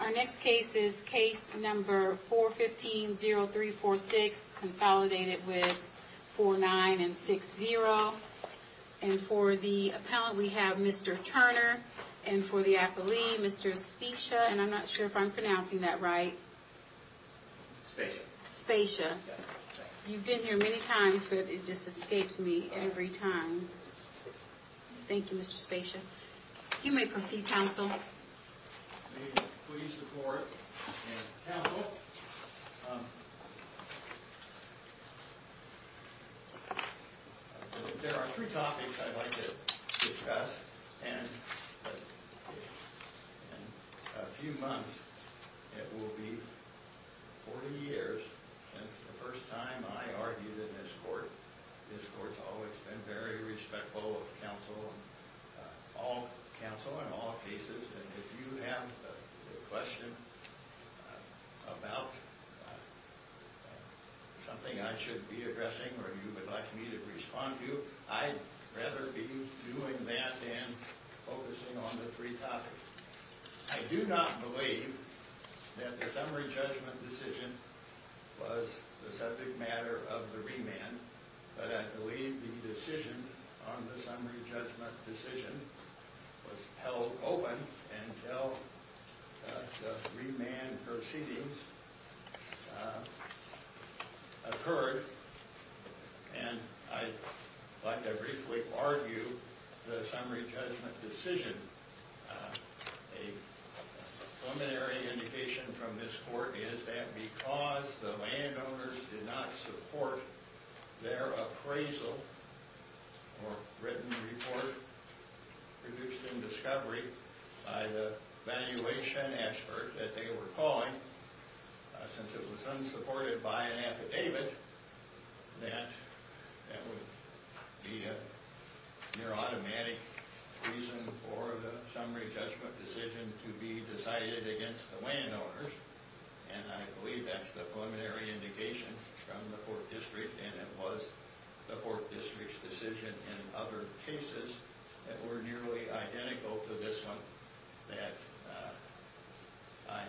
Our next case is case number 415-0346, consolidated with 49 and 60. And for the appellant, we have Mr. Turner. And for the appellee, Mr. Specia, and I'm not sure if I'm pronouncing that right. Specia. Specia. Yes, thanks. You've been here many times, but it just escapes me every time. Thank you, Mr. Specia. You may proceed, counsel. Please support and counsel. There are three topics I'd like to discuss. And in a few months, it will be 40 years since the first time I argued in this court. This court's always been very respectful of counsel, all counsel in all cases. And if you have a question about something I should be addressing or you would like me to respond to, I'd rather be doing that than focusing on the three topics. I do not believe that the summary judgment decision was the subject matter of the remand, but I believe the decision on the summary judgment decision was held open until the remand proceedings occurred. And I'd like to briefly argue the summary judgment decision. A preliminary indication from this court is that because the landowners did not support their appraisal or written report produced in discovery by the valuation expert that they were calling, since it was unsupported by an affidavit, that that would be a near automatic reason for the summary judgment decision to be decided against the landowners. And I believe that's the preliminary indication from the court district, and it was the court district's decision in other cases that were nearly identical to this one that I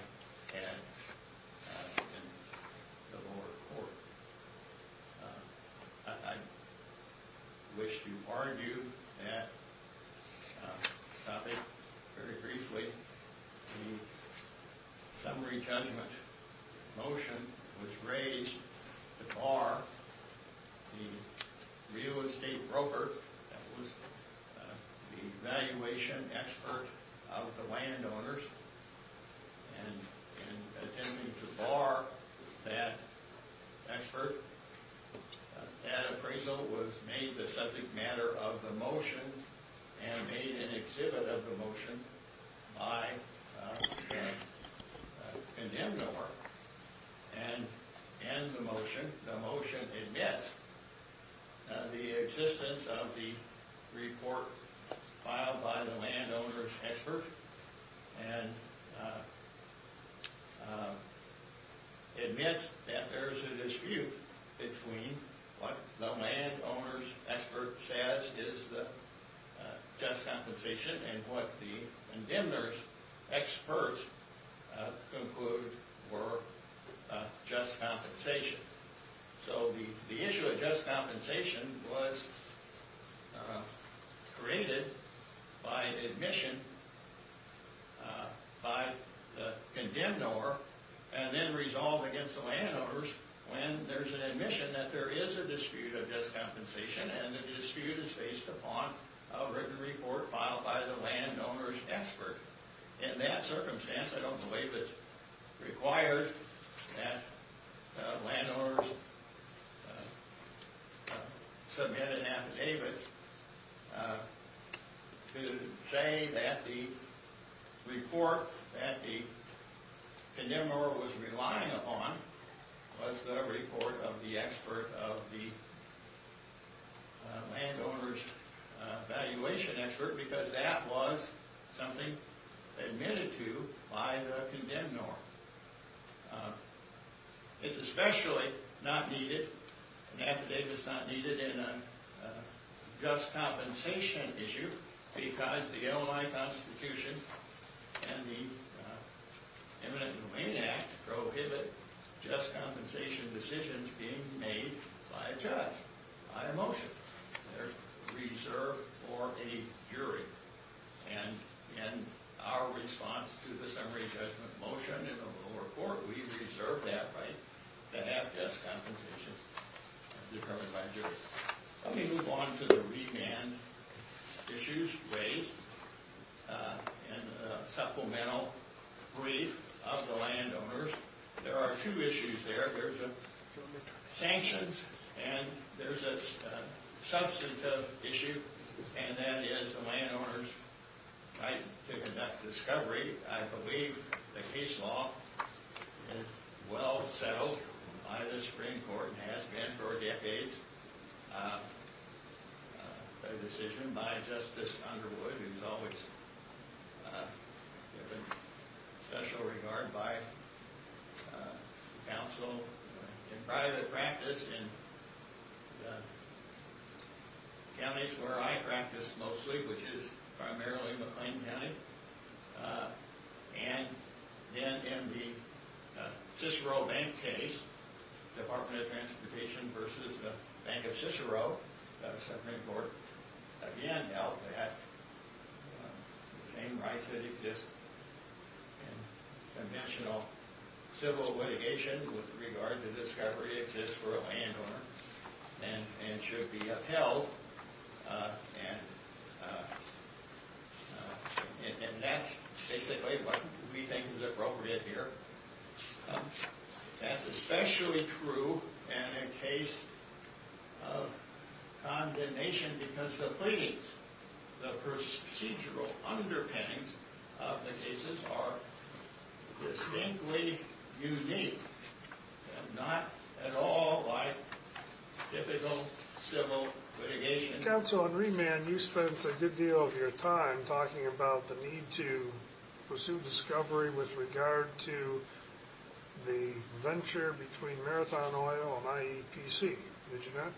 had in the lower court. I wish to argue that topic very briefly. The summary judgment motion was raised to bar the real estate broker that was the valuation expert of the landowners, and in attempting to bar that expert, that appraisal was made the subject matter of the motion and made an exhibit of the motion by the condemned owner. And in the motion, the motion admits the existence of the report filed by the landowner's expert and admits that there's a dispute between what the landowner's expert says is the just compensation and what the condemner's experts conclude were just compensation. So the issue of just compensation was created by admission by the condemned owner and then resolved against the landowners when there's an admission that there is a dispute of just compensation and the dispute is based upon a written report filed by the landowner's expert. In that circumstance, I don't believe it's required that landowners submit an affidavit to say that the report that the condemned owner was relying upon was the report of the expert of the landowner's valuation expert because that was something admitted to by the condemned owner. It's especially not needed, an affidavit's not needed in a just compensation issue because the Illinois Constitution and the Imminent Domain Act prohibit just compensation decisions being made by a judge, by a motion. They're reserved for a jury. And in our response to the summary judgment motion in the little report, we reserve that right to have just compensation determined by a jury. Let me move on to the remand issues raised in the supplemental brief of the landowners. There are two issues there. There's a sanctions and there's a substantive issue, and that is the landowners' right to conduct discovery. I believe the case law is well settled by the Supreme Court and has been for decades. The decision by Justice Underwood is always given special regard by counsel in private practice in the counties where I practice mostly, which is primarily McLean County. And then in the Cicero Bank case, Department of Transportation versus the Bank of Cicero, the Supreme Court again held that the same rights that exist in conventional civil litigation with regard to discovery exist for a landowner and should be upheld. And that's basically what we think is appropriate here. That's especially true in a case of condemnation because the pleadings, the procedural underpinnings of the cases are distinctly unique and not at all like typical civil litigation. Counsel, on remand, you spent a good deal of your time talking about the need to pursue discovery with regard to the venture between Marathon Oil and IEPC, did you not?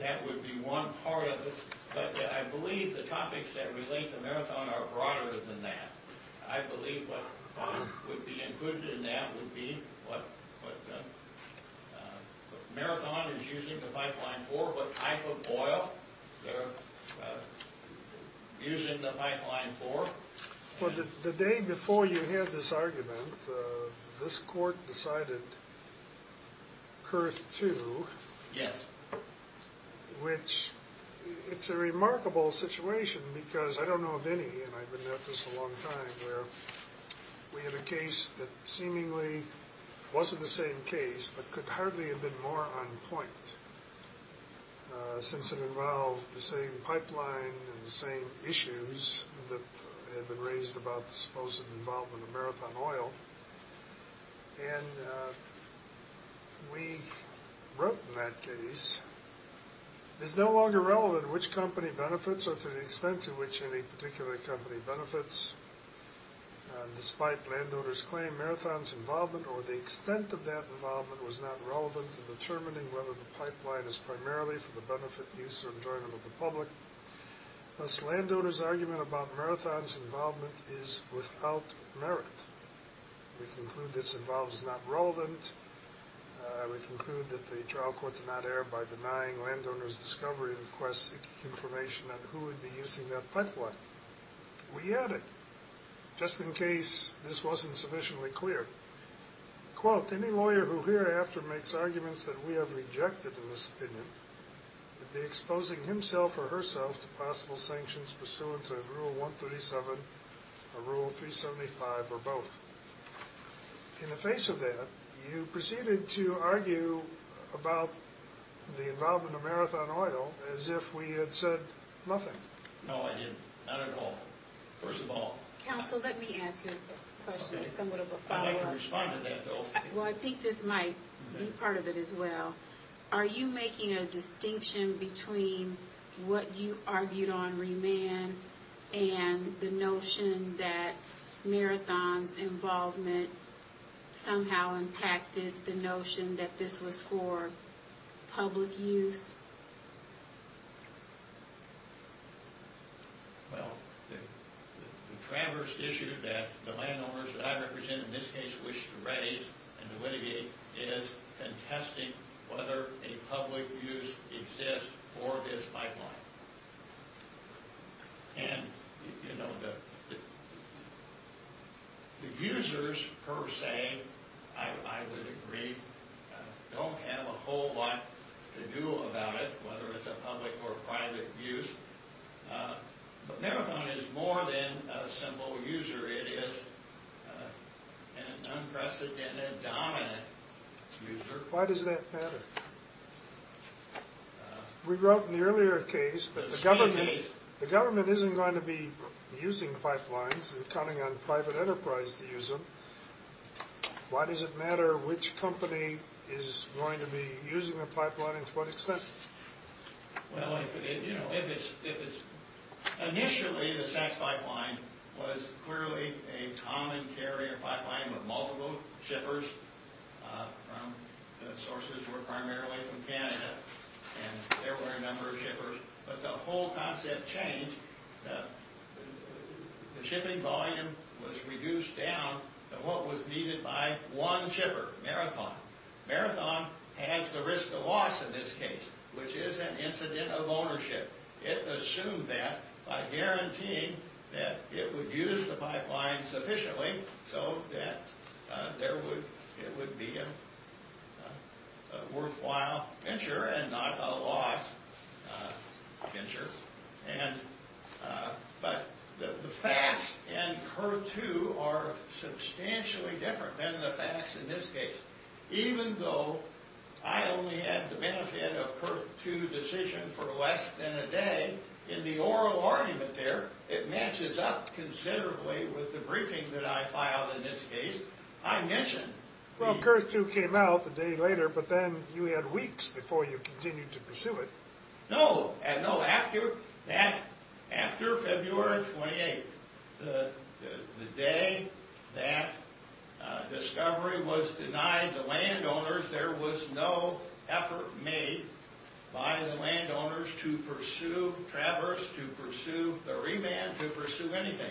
That would be one part of it, but I believe the topics that relate to Marathon are broader than that. I believe what would be included in that would be what Marathon is using the pipeline for, what type of oil they're using the pipeline for. Well, the day before you had this argument, this court decided Kurth 2. Yes. Which, it's a remarkable situation because I don't know of any, and I've been at this a long time, where we had a case that seemingly wasn't the same case but could hardly have been more on point since it involved the same pipeline and the same issues that had been raised about the supposed involvement of Marathon Oil. And we wrote in that case, It is no longer relevant which company benefits or to the extent to which any particular company benefits, despite landowners' claim, Marathon's involvement or the extent of that involvement was not relevant to determining whether the pipeline is primarily for the benefit, use, or enjoyment of the public. Thus, landowners' argument about Marathon's involvement is without merit. We conclude this involvement is not relevant. We conclude that the trial court did not err by denying landowners' discovery and request information on who would be using that pipeline. We added, just in case this wasn't sufficiently clear, Quote, any lawyer who hereafter makes arguments that we have rejected in this opinion would be exposing himself or herself to possible sanctions pursuant to Rule 137 or Rule 375 or both. In the face of that, you proceeded to argue about the involvement of Marathon Oil as if we had said nothing. No, I didn't. Not at all. First of all, Counsel, let me ask you a question, somewhat of a follow-up. I may have responded to that, though. Well, I think this might be part of it as well. Are you making a distinction between what you argued on remand and the notion that Marathon's involvement somehow impacted the notion that this was for public use? Well, the traverse issue that the landowners that I represent in this case wish to raise and to mitigate is contesting whether a public use exists for this pipeline. The users, per se, I would agree, don't have a whole lot to do about it, whether it's a public or private use. But Marathon is more than a simple user. It is an unprecedented dominant user. Why does that matter? We wrote in the earlier case that the government isn't going to be using pipelines and counting on private enterprise to use them. Why does it matter which company is going to be using the pipeline and to what extent? Well, if it's... Initially, the SACS pipeline was clearly a common carrier pipeline with multiple shippers. The sources were primarily from Canada, and there were a number of shippers. But the whole concept changed. The shipping volume was reduced down to what was needed by one shipper, Marathon. Marathon has the risk of loss in this case, which is an incident of ownership. It assumed that by guaranteeing that it would use the pipeline sufficiently so that it would be a worthwhile venture and not a loss venture. But the facts in CURR-2 are substantially different than the facts in this case. Even though I only had the benefit of CURR-2 decision for less than a day, in the oral argument there, it matches up considerably with the briefing that I filed in this case. I mentioned... Well, CURR-2 came out a day later, but then you had weeks before you continued to pursue it. No, after February 28th, the day that discovery was denied the landowners, there was no effort made by the landowners to pursue Traverse, to pursue the remand, to pursue anything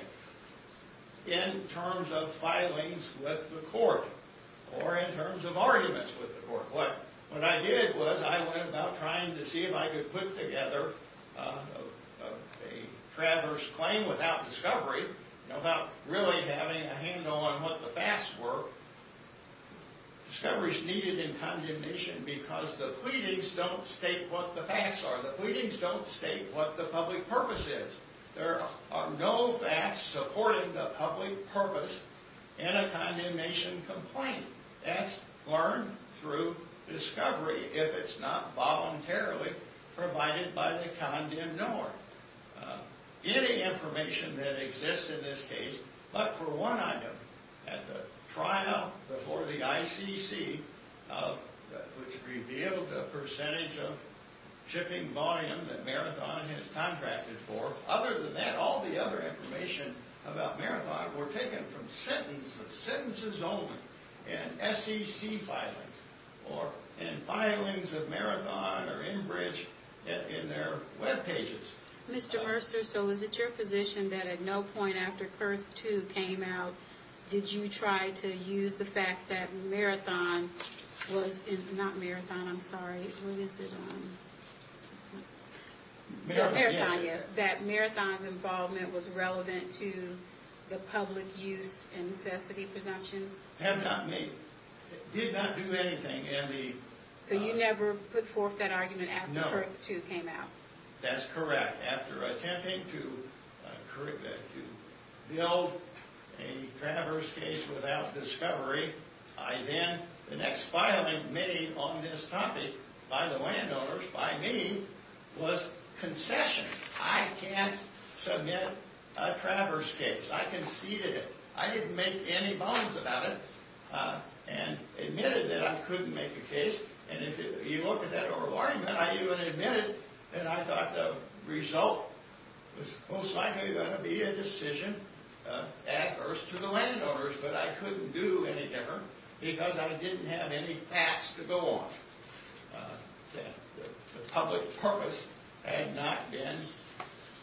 in terms of filings with the court or in terms of arguments with the court. What I did was I went about trying to see if I could put together a Traverse claim without discovery, without really having a handle on what the facts were. Discovery is needed in condemnation because the pleadings don't state what the facts are. The pleadings don't state what the public purpose is. There are no facts supporting the public purpose in a condemnation complaint. That's learned through discovery, if it's not voluntarily provided by the condemned knower. Any information that exists in this case, but for one item, at the trial before the ICC, which revealed the percentage of shipping volume that Marathon has contracted for, other than that, all the other information about Marathon were taken from sentences only. And SEC filings and filings of Marathon are enbridged in their webpages. Mr. Mercer, so is it your position that at no point after Curth II came out, did you try to use the fact that Marathon was, not Marathon, I'm sorry, what is it? Marathon, yes, that Marathon's involvement was relevant to the public use and necessity presumptions? Had not made, did not do anything in the… So you never put forth that argument after Curth II came out? No, that's correct. After attempting to build a Traverse case without discovery, I then, the next filing made on this topic by the landowners, by me, was concession. I can't submit a Traverse case. I conceded it. I didn't make any bonds about it, and admitted that I couldn't make the case. And if you look at that argument, I even admitted that I thought the result was most likely going to be a decision adverse to the landowners, but I couldn't do anything because I didn't have any facts to go on. The public purpose had not been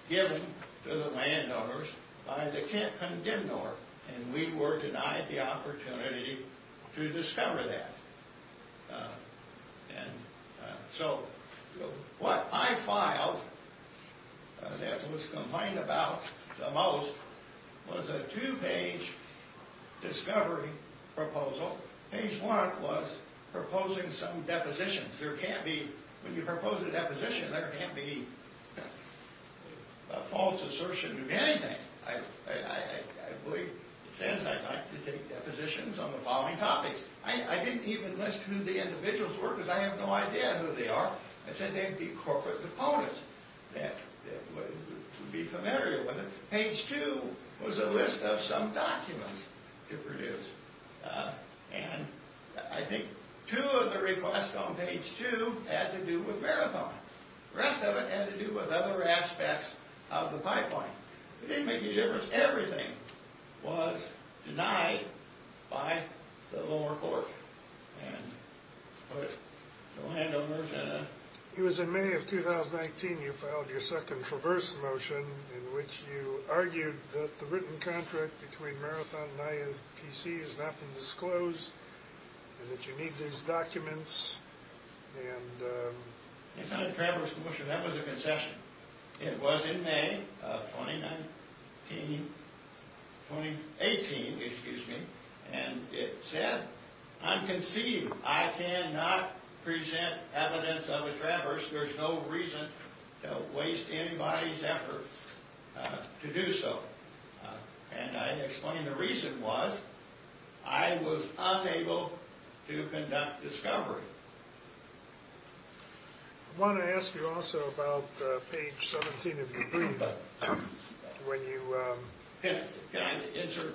given to the landowners by the condemnor, and we were denied the opportunity to discover that. So what I filed that was complained about the most was a two-page discovery proposal. Page one was proposing some depositions. There can't be, when you propose a deposition, there can't be a false assertion or anything. I believe it says I'd like to take depositions on the following topics. I didn't even list who the individuals were because I have no idea who they are. I said they'd be corporate opponents that would be familiar with it. Page two was a list of some documents to produce, and I think two of the requests on page two had to do with Marathon. The rest of it had to do with other aspects of the pipeline. It didn't make any difference. Everything was denied by the lower court. It was in May of 2019 you filed your second traverse motion in which you argued that the written contract between Marathon and IAPC has not been disclosed and that you need these documents. It's not a traverse motion. That was a concession. It was in May of 2018, excuse me, and it said, I'm conceived. I cannot present evidence of a traverse. There's no reason to waste anybody's effort to do so. And I explained the reason was I was unable to conduct discovery. I want to ask you also about page 17 of your brief when you Can I answer?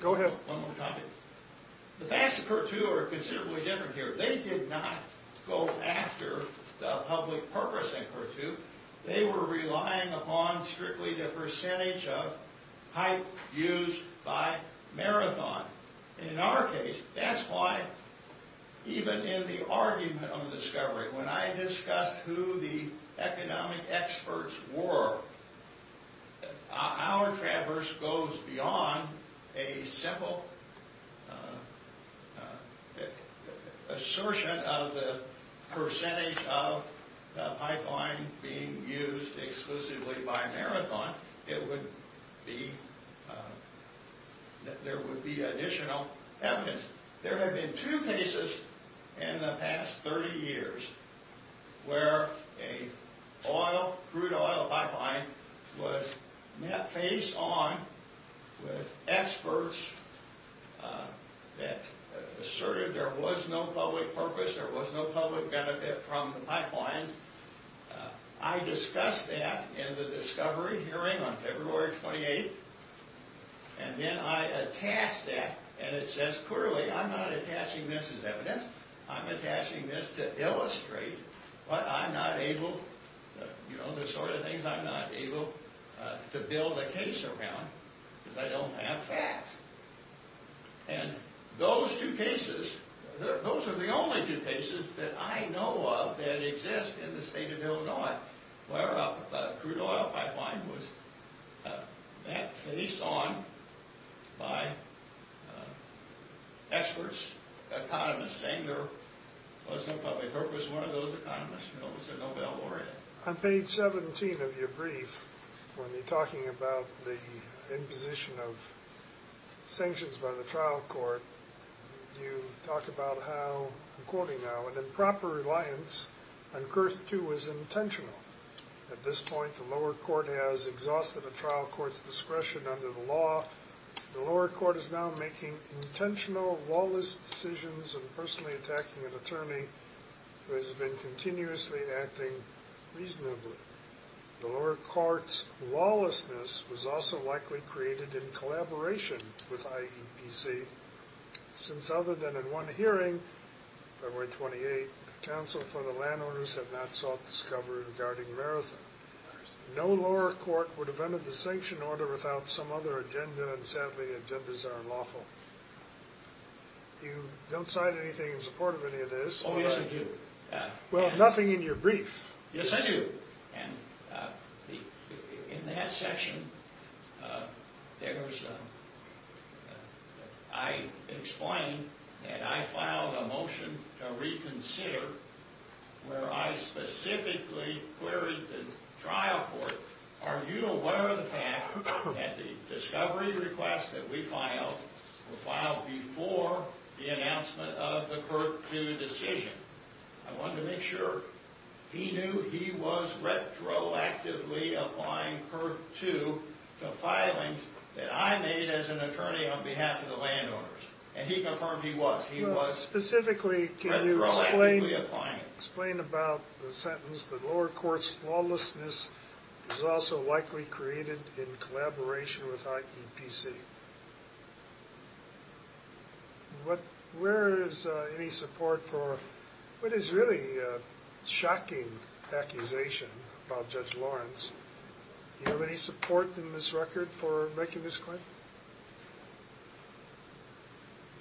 Go ahead. One more topic. The facts of CURR II are considerably different here. They did not go after the public purpose in CURR II. They were relying upon strictly the percentage of pipe used by Marathon. In our case, that's why even in the argument of discovery, when I discussed who the economic experts were, our traverse goes beyond a simple assertion of the percentage of pipeline being used exclusively by Marathon. There would be additional evidence. There have been two cases in the past 30 years where a crude oil pipeline was met face on with experts that asserted there was no public purpose, there was no public benefit from the pipelines. I discussed that in the discovery hearing on February 28th, and then I attached that, and it says clearly I'm not attaching this as evidence. I'm attaching this to illustrate what I'm not able, the sort of things I'm not able to build a case around because I don't have facts. And those two cases, those are the only two cases that I know of that exist in the state of Illinois where a crude oil pipeline was met face on by experts, economists saying there was no public purpose. One of those economists, you know, was a Nobel laureate. On page 17 of your brief, when you're talking about the imposition of sanctions by the trial court, you talk about how, I'm quoting now, an improper reliance on Kurth II was intentional. At this point, the lower court has exhausted the trial court's discretion under the law. The lower court is now making intentional, lawless decisions and personally attacking an attorney who has been continuously acting reasonably. The lower court's lawlessness was also likely created in collaboration with IEPC since other than in one hearing, February 28th, counsel for the landowners had not sought discovery regarding Marathon. No lower court would have entered the sanction order without some other agenda, and sadly, agendas are unlawful. You don't cite anything in support of any of this. Oh, yes, I do. Well, nothing in your brief. Yes, I do. And in that section, I explained that I filed a motion to reconsider where I specifically queried the trial court, are you aware of the fact that the discovery request that we filed was filed before the announcement of the Kurth II decision? I wanted to make sure. He knew he was retroactively applying Kurth II to filings that I made as an attorney on behalf of the landowners, and he confirmed he was. Specifically, can you explain about the sentence, that lower court's lawlessness was also likely created in collaboration with IEPC? Where is any support for what is really a shocking accusation about Judge Lawrence? Do you have any support in this record for making this claim?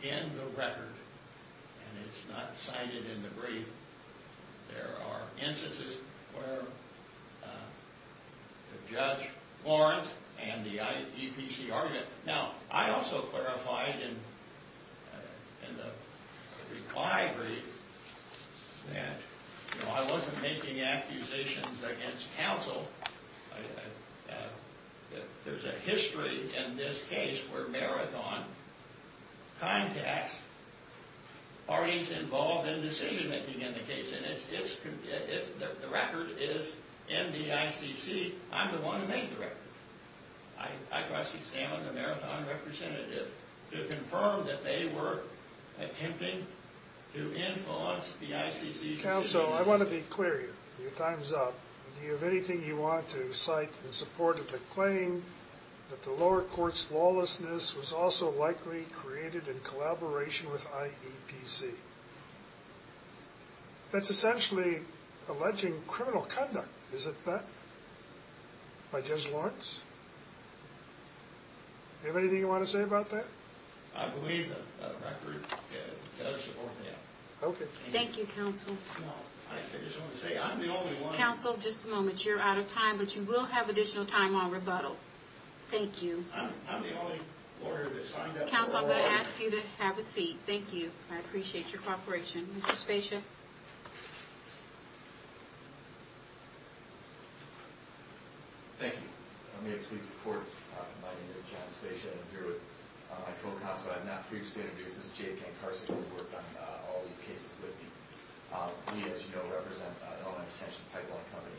In the record, and it's not cited in the brief, there are instances where Judge Lawrence and the IEPC argument. Now, I also clarified in the reply brief that I wasn't making accusations against counsel. There's a history in this case where Marathon contacts parties involved in decision-making in the case, and the record is in the ICC. I'm the one who made the record. I cross-examined the Marathon representative to confirm that they were attempting to influence the ICC decision. Counsel, I want to be clear here. Your time is up. Do you have anything you want to cite in support of the claim that the lower court's lawlessness was also likely created in collaboration with IEPC? That's essentially alleging criminal conduct, is it not, by Judge Lawrence? Do you have anything you want to say about that? I believe that the record does support that. Okay. Thank you, counsel. I just want to say, I'm the only one. Counsel, just a moment. You're out of time, but you will have additional time on rebuttal. Thank you. I'm the only lawyer that's signed up for the lower court. Counsel, I'm going to ask you to have a seat. Thank you. I appreciate your cooperation. Mr. Spezia? Thank you. May I please report? My name is John Spezia. I'm here with my co-counsel. I have not previously introduced this. Jay Pancarsie has worked on all these cases with me. We, as you know, represent an extension pipeline company.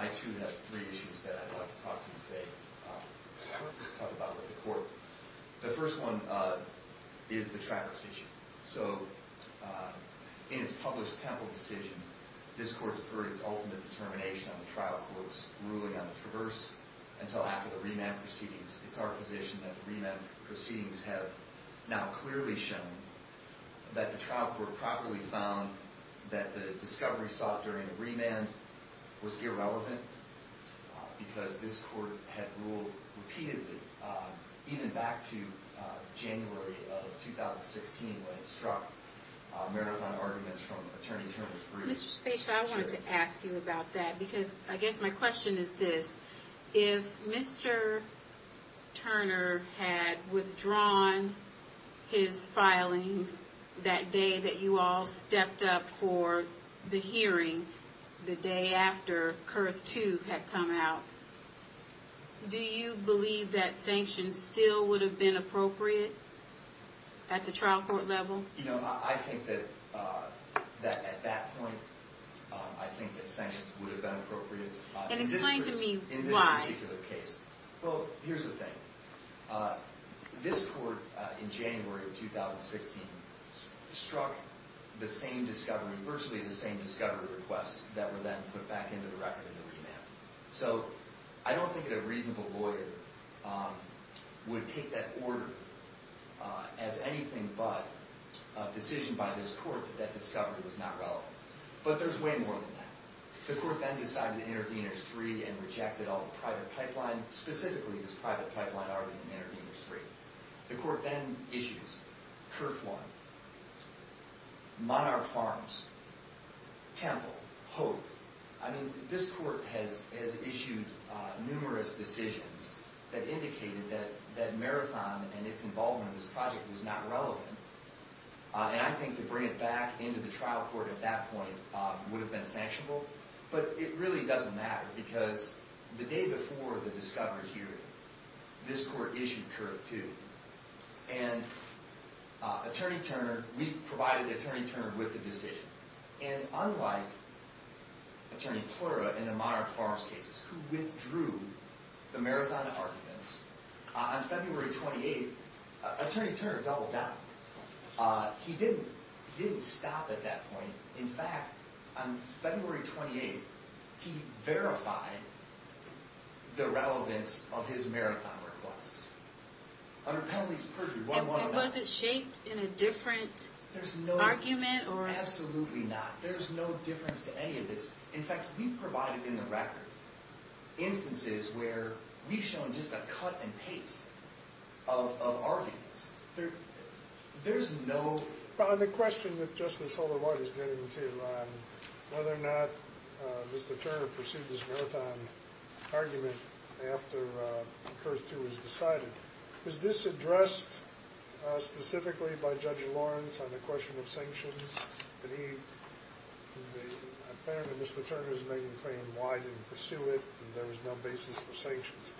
I, too, have three issues that I'd like to talk to you today. I want to talk about with the court. The first one is the Travis issue. So, in its published temple decision, this court deferred its ultimate determination on the trial court's ruling on the traverse until after the remand proceedings. It's our position that the remand proceedings have now clearly shown that the trial court properly found that the discovery sought during the remand was irrelevant, because this court had ruled repeatedly, even back to January of 2016, when it struck marathon arguments from Attorney General Bruce. Mr. Spezia, I wanted to ask you about that, because I guess my question is this. If Mr. Turner had withdrawn his filings that day that you all stepped up for the hearing, the day after Kurth 2 had come out, do you believe that sanctions still would have been appropriate at the trial court level? You know, I think that at that point, I think that sanctions would have been appropriate. And explain to me why. Well, here's the thing. This court, in January of 2016, struck virtually the same discovery requests that were then put back into the record in the remand. So, I don't think that a reasonable lawyer would take that order as anything but a decision by this court that that discovery was not relevant. But there's way more than that. The court then decided to intervene in Kurth 3 and rejected all the private pipeline, specifically this private pipeline argument in Kurth 3. The court then issues Kurth 1, Monarch Farms, Temple, Hope. I mean, this court has issued numerous decisions that indicated that marathon and its involvement in this project was not relevant. And I think to bring it back into the trial court at that point would have been sanctionable. But it really doesn't matter because the day before the discovery hearing, this court issued Kurth 2. And Attorney Turner, we provided Attorney Turner with the decision. And unlike Attorney Plura in the Monarch Farms cases, who withdrew the marathon arguments, on February 28th, Attorney Turner doubled down. He didn't stop at that point. In fact, on February 28th, he verified the relevance of his marathon requests. Under Penalty Perjury 1111. And was it shaped in a different argument? Absolutely not. There's no difference to any of this. In fact, we've provided in the record instances where we've shown just a cut in pace of arguments. There's no- On the question that Justice Holder-White is getting to, on whether or not Mr. Turner pursued his marathon argument after Kurth 2 was decided, was this addressed specifically by Judge Lawrence on the question of sanctions? And he- Apparently, Mr. Turner is making the claim, why didn't he pursue it, and there was no basis for sanctions.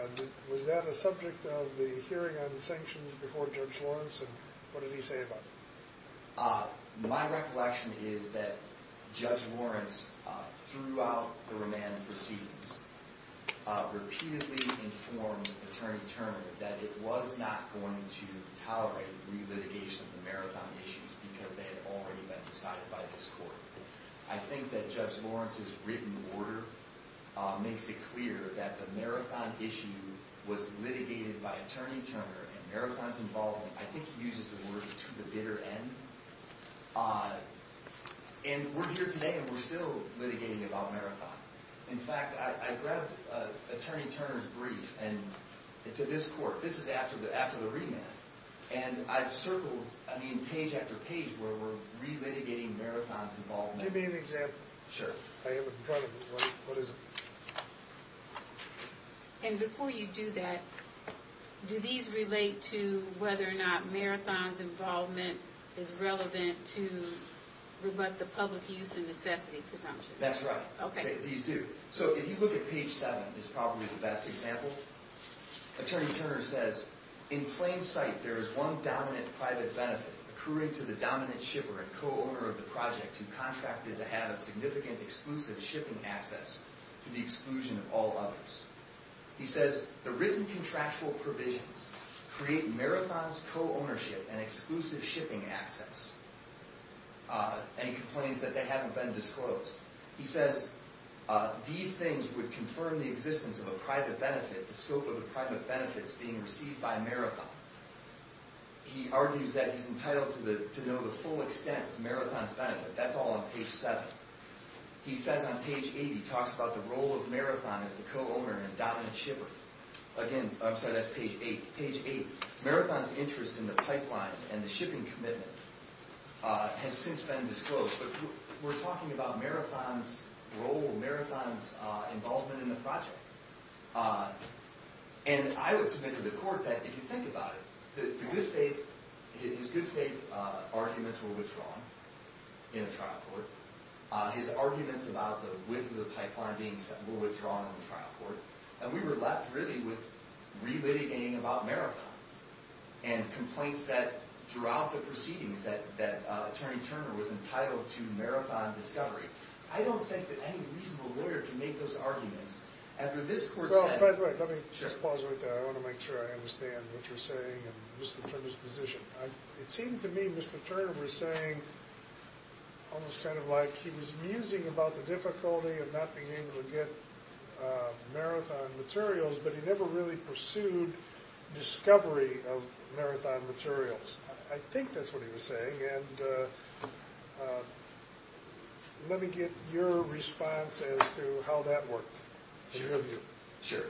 And was that a subject of the hearing on sanctions before Judge Lawrence? And what did he say about it? My recollection is that Judge Lawrence, throughout the remand proceedings, repeatedly informed Attorney Turner that it was not going to tolerate relitigation of the marathon issues because they had already been decided by this court. I think that Judge Lawrence's written order makes it clear that the marathon issue was litigated by Attorney Turner, and marathon's involvement, I think he uses the words, to the bitter end. And we're here today, and we're still litigating about marathon. In fact, I grabbed Attorney Turner's brief to this court. This is after the remand. And I've circled, I mean, page after page where we're relitigating marathon's involvement. Can you give me an example? Sure. I have it in front of me. What is it? And before you do that, do these relate to whether or not marathon's involvement is relevant to the public use and necessity presumptions? That's right. Okay. These do. So if you look at page 7, it's probably the best example. Attorney Turner says, In plain sight, there is one dominant private benefit, accruing to the dominant shipper and co-owner of the project who contracted to have a significant exclusive shipping access to the exclusion of all others. He says, The written contractual provisions create marathon's co-ownership and exclusive shipping access. And he complains that they haven't been disclosed. He says, These things would confirm the existence of a private benefit, the scope of the private benefits being received by marathon. He argues that he's entitled to know the full extent of marathon's benefit. That's all on page 7. He says on page 8, he talks about the role of marathon as the co-owner and dominant shipper. Again, I'm sorry, that's page 8. Page 8. Marathon's interest in the pipeline and the shipping commitment has since been disclosed. We're talking about marathon's role, marathon's involvement in the project. And I would submit to the court that if you think about it, his good faith arguments were withdrawn in a trial court. His arguments about the width of the pipeline being withdrawn in a trial court. And we were left really with relitigating about marathon. And complaints that throughout the proceedings that Attorney Turner was entitled to marathon discovery. I don't think that any reasonable lawyer can make those arguments. After this court said- Well, by the way, let me just pause right there. I want to make sure I understand what you're saying and Mr. Turner's position. It seemed to me Mr. Turner was saying, almost kind of like he was musing about the difficulty of not being able to get marathon materials, but he never really pursued discovery of marathon materials. I think that's what he was saying. And let me get your response as to how that worked. Sure.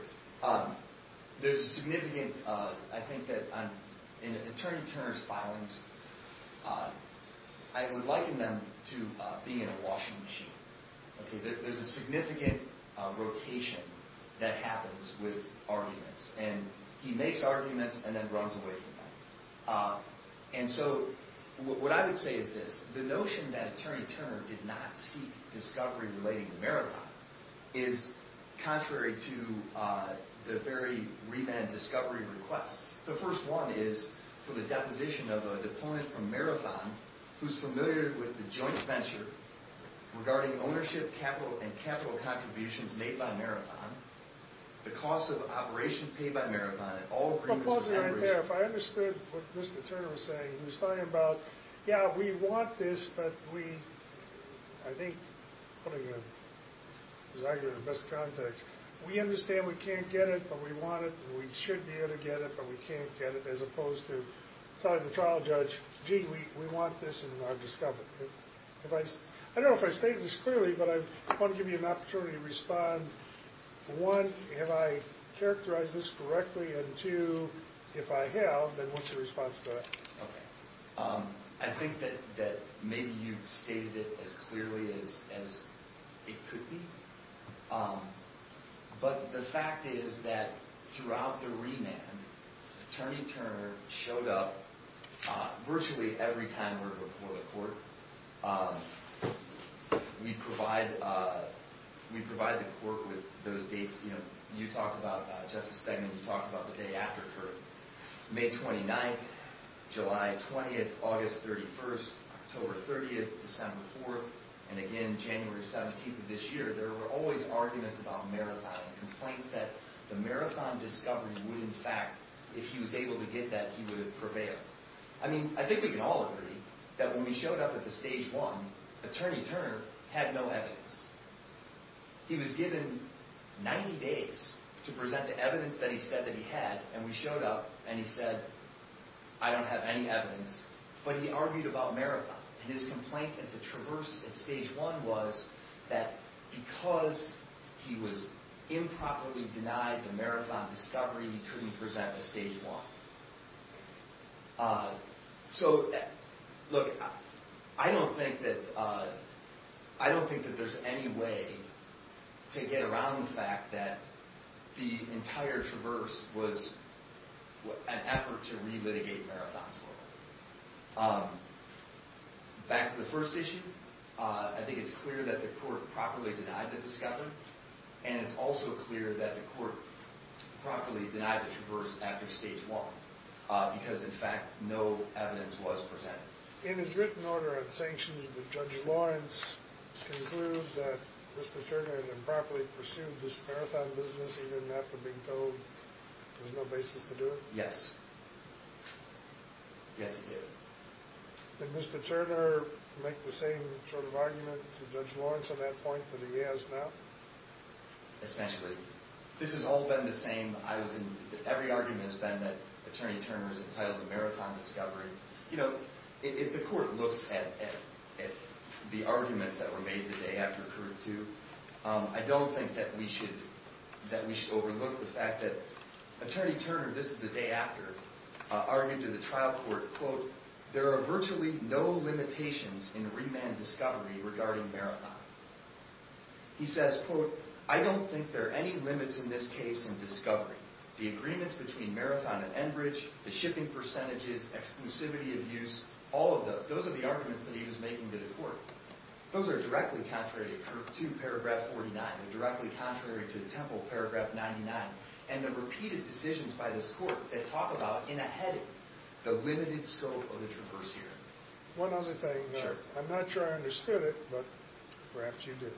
There's a significant, I think that in Attorney Turner's filings, I would liken them to being in a washing machine. There's a significant rotation that happens with arguments. And he makes arguments and then runs away from them. And so what I would say is this. The notion that Attorney Turner did not seek discovery relating to marathon is contrary to the very remand discovery requests. The first one is for the deposition of a deponent from marathon, who's familiar with the joint venture regarding ownership, capital, and capital contributions made by marathon, the cost of operation paid by marathon, and all agreements- Pause right there. If I understood what Mr. Turner was saying, he was talking about, yeah, we want this, but we- I think putting his argument in the best context. We understand we can't get it, but we want it. And we should be able to get it, but we can't get it. As opposed to telling the trial judge, gee, we want this and we want discovery. I don't know if I stated this clearly, but I want to give you an opportunity to respond. One, have I characterized this correctly? And two, if I have, then what's your response to that? I think that maybe you've stated it as clearly as it could be. But the fact is that throughout the remand, Attorney Turner showed up virtually every time we were before the court. We provide the court with those dates. You talked about Justice Feigman. You talked about the day after CURT. May 29th, July 20th, August 31st, October 30th, December 4th, and again, January 17th of this year, there were always arguments about Marathon and complaints that the Marathon discovery would, in fact, if he was able to get that, he would prevail. I mean, I think we can all agree that when we showed up at the Stage 1, Attorney Turner had no evidence. He was given 90 days to present the evidence that he said that he had. And we showed up, and he said, I don't have any evidence. But he argued about Marathon. And his complaint at the Traverse at Stage 1 was that because he was improperly denied the Marathon discovery, he couldn't present at Stage 1. So, look, I don't think that there's any way to get around the fact that the entire Traverse was an effort to relitigate Marathon's work. Back to the first issue, I think it's clear that the court properly denied the discovery, and it's also clear that the court properly denied the Traverse after Stage 1, because, in fact, no evidence was presented. In his written order on sanctions, did Judge Lawrence conclude that Mr. Turner had improperly pursued this Marathon business even after being told there was no basis to do it? Yes. Yes, he did. Did Mr. Turner make the same sort of argument to Judge Lawrence on that point that he has now? Essentially. This has all been the same. Every argument has been that Attorney Turner is entitled to Marathon discovery. You know, if the court looks at the arguments that were made the day after Court 2, I don't think that we should overlook the fact that Attorney Turner, this is the day after, argued to the trial court, quote, There are virtually no limitations in remand discovery regarding Marathon. He says, quote, I don't think there are any limits in this case in discovery. The agreements between Marathon and Enbridge, the shipping percentages, exclusivity of use, all of those are the arguments that he was making to the court. Those are directly contrary to Curth 2, paragraph 49, and directly contrary to Temple, paragraph 99, and the repeated decisions by this court that talk about, in a heading, the limited scope of the traverse here. One other thing. I'm not sure I understood it, but perhaps you did.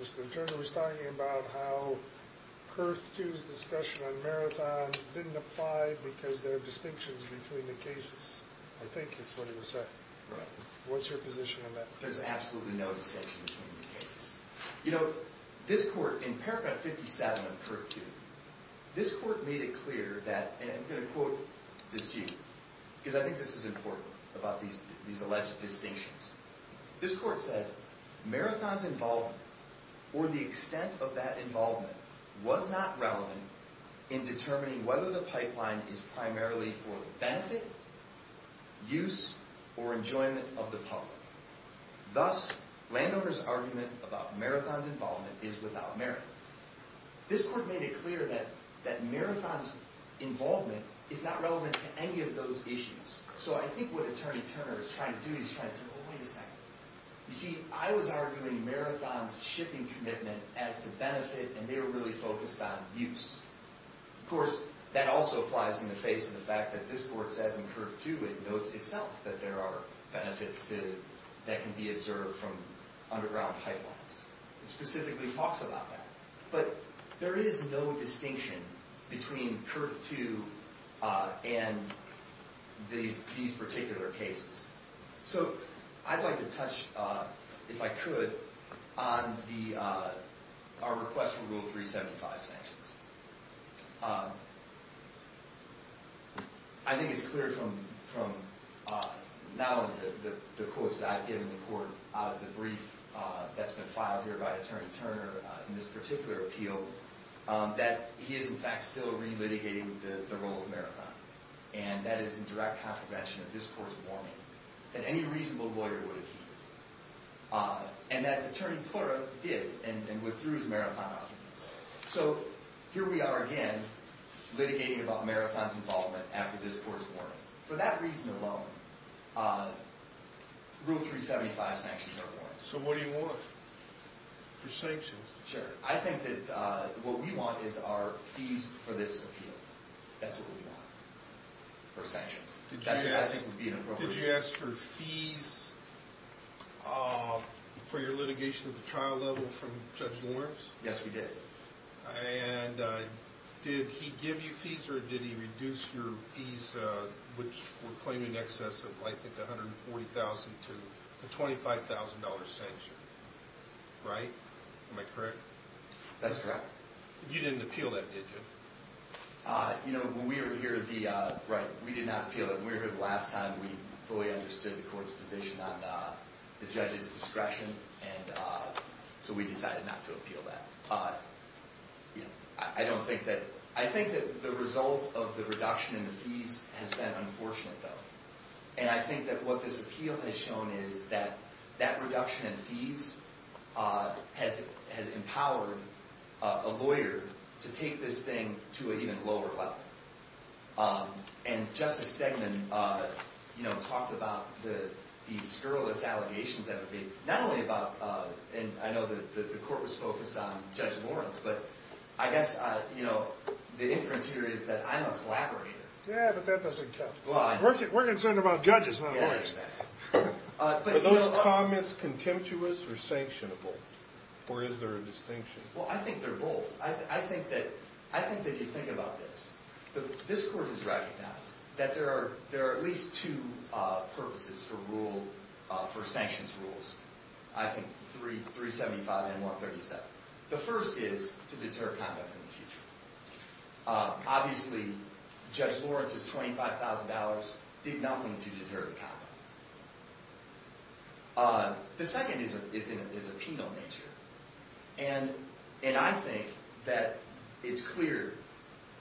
Mr. Turner was talking about how Curth 2's discussion on Marathon didn't apply because there are distinctions between the cases. I think that's what he was saying. What's your position on that? There's absolutely no distinction between these cases. You know, this court, in paragraph 57 of Curth 2, this court made it clear that, and I'm going to quote this to you, because I think this is important about these alleged distinctions. This court said, Marathon's involvement, or the extent of that involvement, was not relevant in determining whether the pipeline is primarily for the benefit, use, or enjoyment of the public. Thus, Landowner's argument about Marathon's involvement is without merit. This court made it clear that Marathon's involvement is not relevant to any of those issues. So I think what Attorney Turner is trying to do, he's trying to say, oh, wait a second. You see, I was arguing Marathon's shipping commitment as the benefit, and they were really focused on use. Of course, that also flies in the face of the fact that this court says in Curth 2, it notes itself that there are benefits that can be observed from underground pipelines. It specifically talks about that. But there is no distinction between Curth 2 and these particular cases. So I'd like to touch, if I could, on our request for Rule 375 sanctions. I think it's clear from now on the quotes that I've given the court out of the brief that's been filed here by Attorney Turner in this particular appeal that he is, in fact, still re-litigating the role of Marathon. And that is in direct contravention of this court's warning that any reasonable lawyer would appeal. And that Attorney Plura did, and withdrew his Marathon documents. So here we are again, litigating about Marathon's involvement after this court's warning. For that reason alone, Rule 375 sanctions are warranted. So what do you want for sanctions? Sure. I think that what we want is our fees for this appeal. That's what we want for sanctions. Did you ask for fees for your litigation at the trial level from Judge Lawrence? Yes, we did. And did he give you fees, or did he reduce your fees, which were claiming excess of, I think, $140,000 to a $25,000 sanction? Right? Am I correct? That's correct. You didn't appeal that, did you? You know, when we were here the last time, we fully understood the court's position on the judge's discretion, and so we decided not to appeal that. I think that the result of the reduction in the fees has been unfortunate, though. And I think that what this appeal has shown is that that reduction in fees has empowered a lawyer to take this thing to an even lower level. And Justice Stegman talked about these scurrilous allegations that have been made, not only about, and I know that the court was focused on Judge Lawrence, but I guess the inference here is that I'm a collaborator. Yeah, but that doesn't count. We're concerned about judges, not lawyers. Are those comments contemptuous or sanctionable, or is there a distinction? Well, I think they're both. I think that if you think about this, this court has recognized that there are at least two purposes for sanctions rules, I think 375 and 137. The first is to deter conduct in the future. Obviously, Judge Lawrence's $25,000 did nothing to deter conduct. The second is a penal nature, and I think that it's clear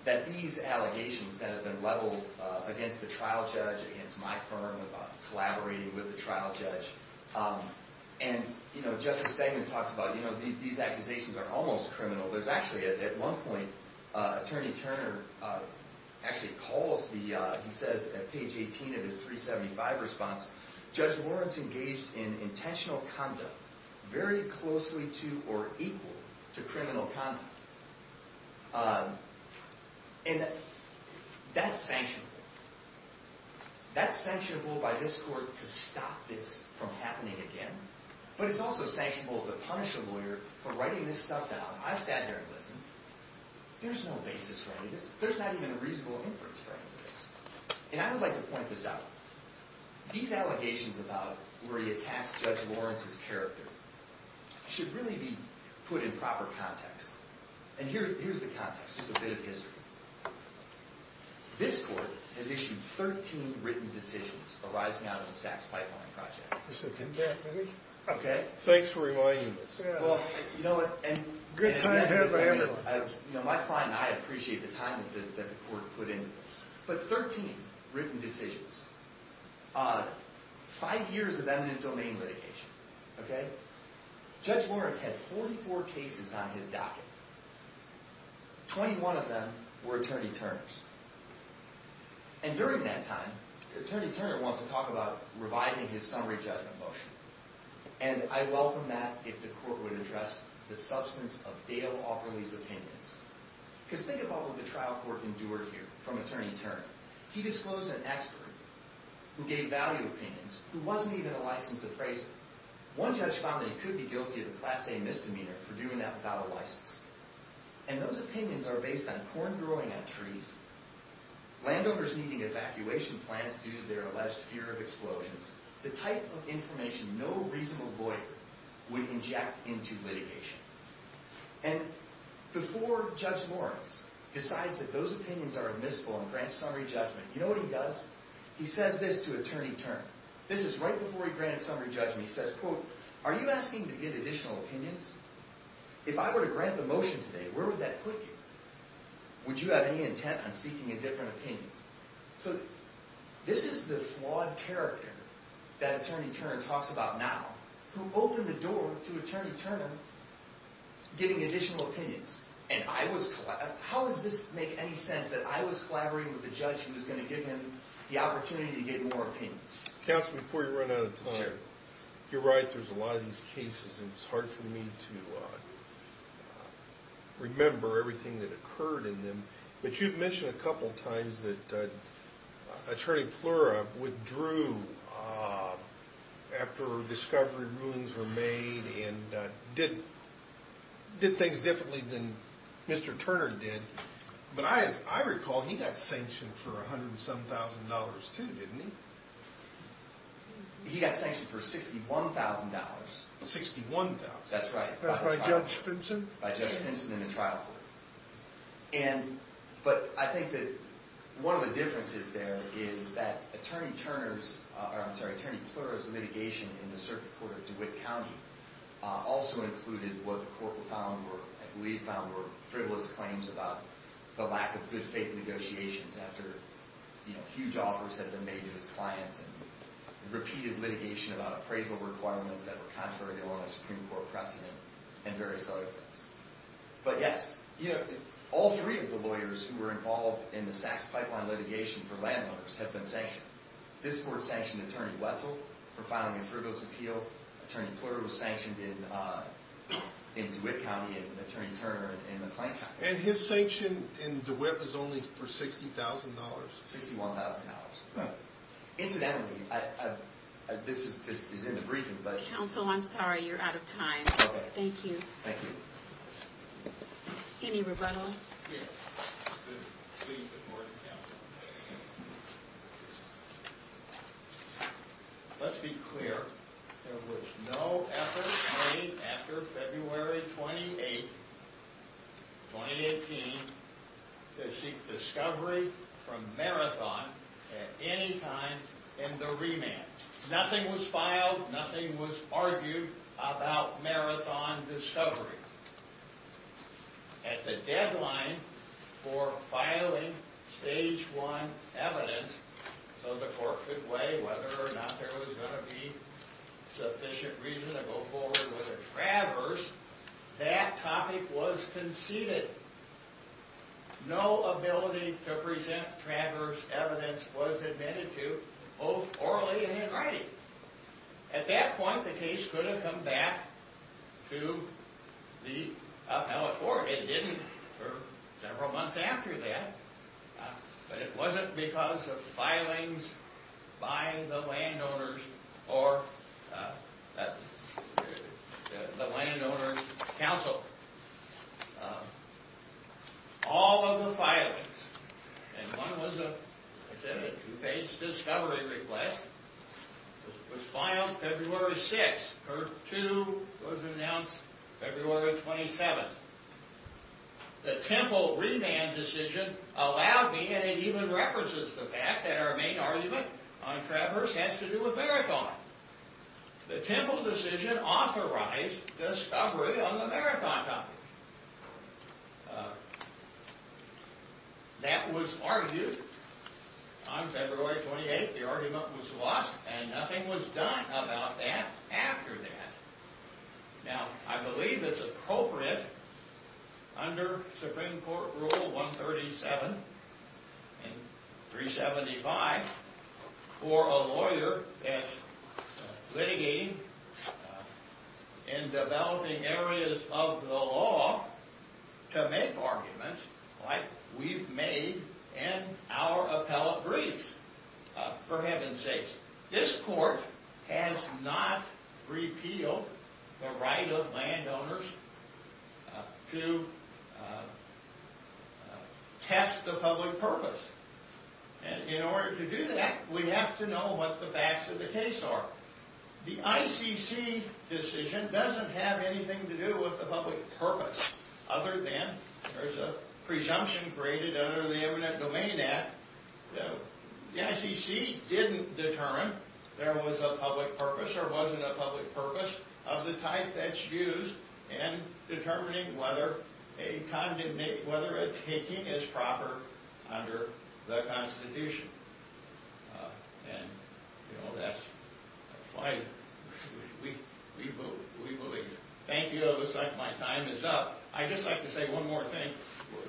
that these allegations that have been leveled against the trial judge, against my firm, collaborating with the trial judge, and Justice Stegman talks about these accusations are almost criminal. There's actually, at one point, Attorney Turner actually calls the, he says at page 18 of his 375 response, Judge Lawrence engaged in intentional conduct very closely to or equal to criminal conduct. And that's sanctionable. That's sanctionable by this court to stop this from happening again, but it's also sanctionable to punish a lawyer for writing this stuff down. I've sat here and listened. There's no basis for any of this. There's not even a reasonable inference for any of this. And I would like to point this out. These allegations about where he attacks Judge Lawrence's character should really be put in proper context. And here's the context, just a bit of history. This court has issued 13 written decisions arising out of the SACS pipeline project. Okay. Thanks for reminding us. Well, you know what? My client and I appreciate the time that the court put into this. But 13 written decisions. Five years of eminent domain litigation. Okay? Judge Lawrence had 44 cases on his docket. 21 of them were Attorney Turner's. And during that time, Attorney Turner wants to talk about reviving his summary judgment motion. And I welcome that if the court would address the substance of Dale Awkerly's opinions. Because think about what the trial court endured here from Attorney Turner. He disclosed an expert who gave value opinions, who wasn't even a licensed appraiser. One judge found that he could be guilty of a class A misdemeanor for doing that without a license. And those opinions are based on corn growing on trees, landowners needing evacuation plans due to their alleged fear of explosions, the type of information no reasonable lawyer would inject into litigation. And before Judge Lawrence decides that those opinions are admissible and grants summary judgment, you know what he does? He says this to Attorney Turner. This is right before he grants summary judgment. He says, quote, Are you asking to get additional opinions? If I were to grant the motion today, where would that put you? Would you have any intent on seeking a different opinion? So this is the flawed character that Attorney Turner talks about now, who opened the door to Attorney Turner getting additional opinions. And I was, how does this make any sense that I was collaborating with the judge who was going to give him the opportunity to get more opinions? Counsel, before you run out of time, you're right, there's a lot of these cases, and it's hard for me to remember everything that occurred in them. But you've mentioned a couple times that Attorney Plura withdrew after discovery rulings were made and did things differently than Mr. Turner did. But I recall he got sanctioned for $107,000 too, didn't he? He got sanctioned for $61,000. $61,000. That's right. By Judge Vinson? By Judge Vinson in the trial court. But I think that one of the differences there is that Attorney Plura's litigation in the circuit court of DeWitt County also included what the court found were, I believe found were, frivolous claims about the lack of good faith negotiations after huge offers had been made to his clients and repeated litigation about appraisal requirements that were contrary to Illinois Supreme Court precedent and various other things. But yes, all three of the lawyers who were involved in the SAX pipeline litigation for landowners have been sanctioned. This court sanctioned Attorney Wetzel for filing a frivolous appeal. Attorney Plura was sanctioned in DeWitt County, and Attorney Turner in McLean County. And his sanction in DeWitt was only for $60,000? $61,000. Right. Incidentally, this is in the briefing, but... Counsel, I'm sorry, you're out of time. Okay. Thank you. Thank you. Any rebuttals? Yes. Please, the Board of Counsel. Let's be clear. There was no effort made after February 28, 2018, to seek discovery from Marathon at any time in the remand. Nothing was filed. Nothing was argued about Marathon discovery. At the deadline for filing Stage 1 evidence, so the court could weigh whether or not there was going to be sufficient reason to go forward with a traverse, that topic was conceded. No ability to present traverse evidence was admitted to, both orally and in writing. At that point, the case could have come back to the appellate court. It didn't for several months after that. But it wasn't because of filings by the landowners or the landowners' counsel. All of the filings. And one was a two-page discovery request. It was filed February 6. Court 2 was announced February 27. The Temple remand decision allowed me, and it even references the fact that our main argument on traverse has to do with Marathon. The Temple decision authorized discovery on the Marathon topic. That was argued on February 28. The argument was lost, and nothing was done about that after that. Now, I believe it's appropriate under Supreme Court Rule 137 and 375 for a lawyer that's litigating in developing areas of the law to make arguments like we've made in our appellate briefs. For heaven's sakes. This court has not repealed the right of landowners to test the public purpose. And in order to do that, we have to know what the facts of the case are. The ICC decision doesn't have anything to do with the public purpose other than there's a presumption graded under the Imminent Domain Act that the ICC didn't determine there was a public purpose or wasn't a public purpose of the type that's used in determining whether a taking is proper under the Constitution. And, you know, that's why we believe it. Thank you. It looks like my time is up. I'd just like to say one more thing.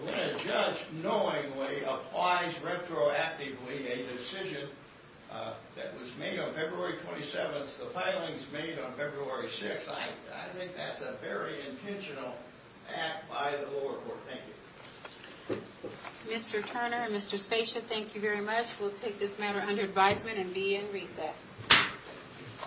When a judge knowingly applies retroactively a decision that was made on February 27, as the filings made on February 6, I think that's a very intentional act by the lower court. Thank you. Mr. Turner and Mr. Spatia, thank you very much. We'll take this matter under advisement and be in recess.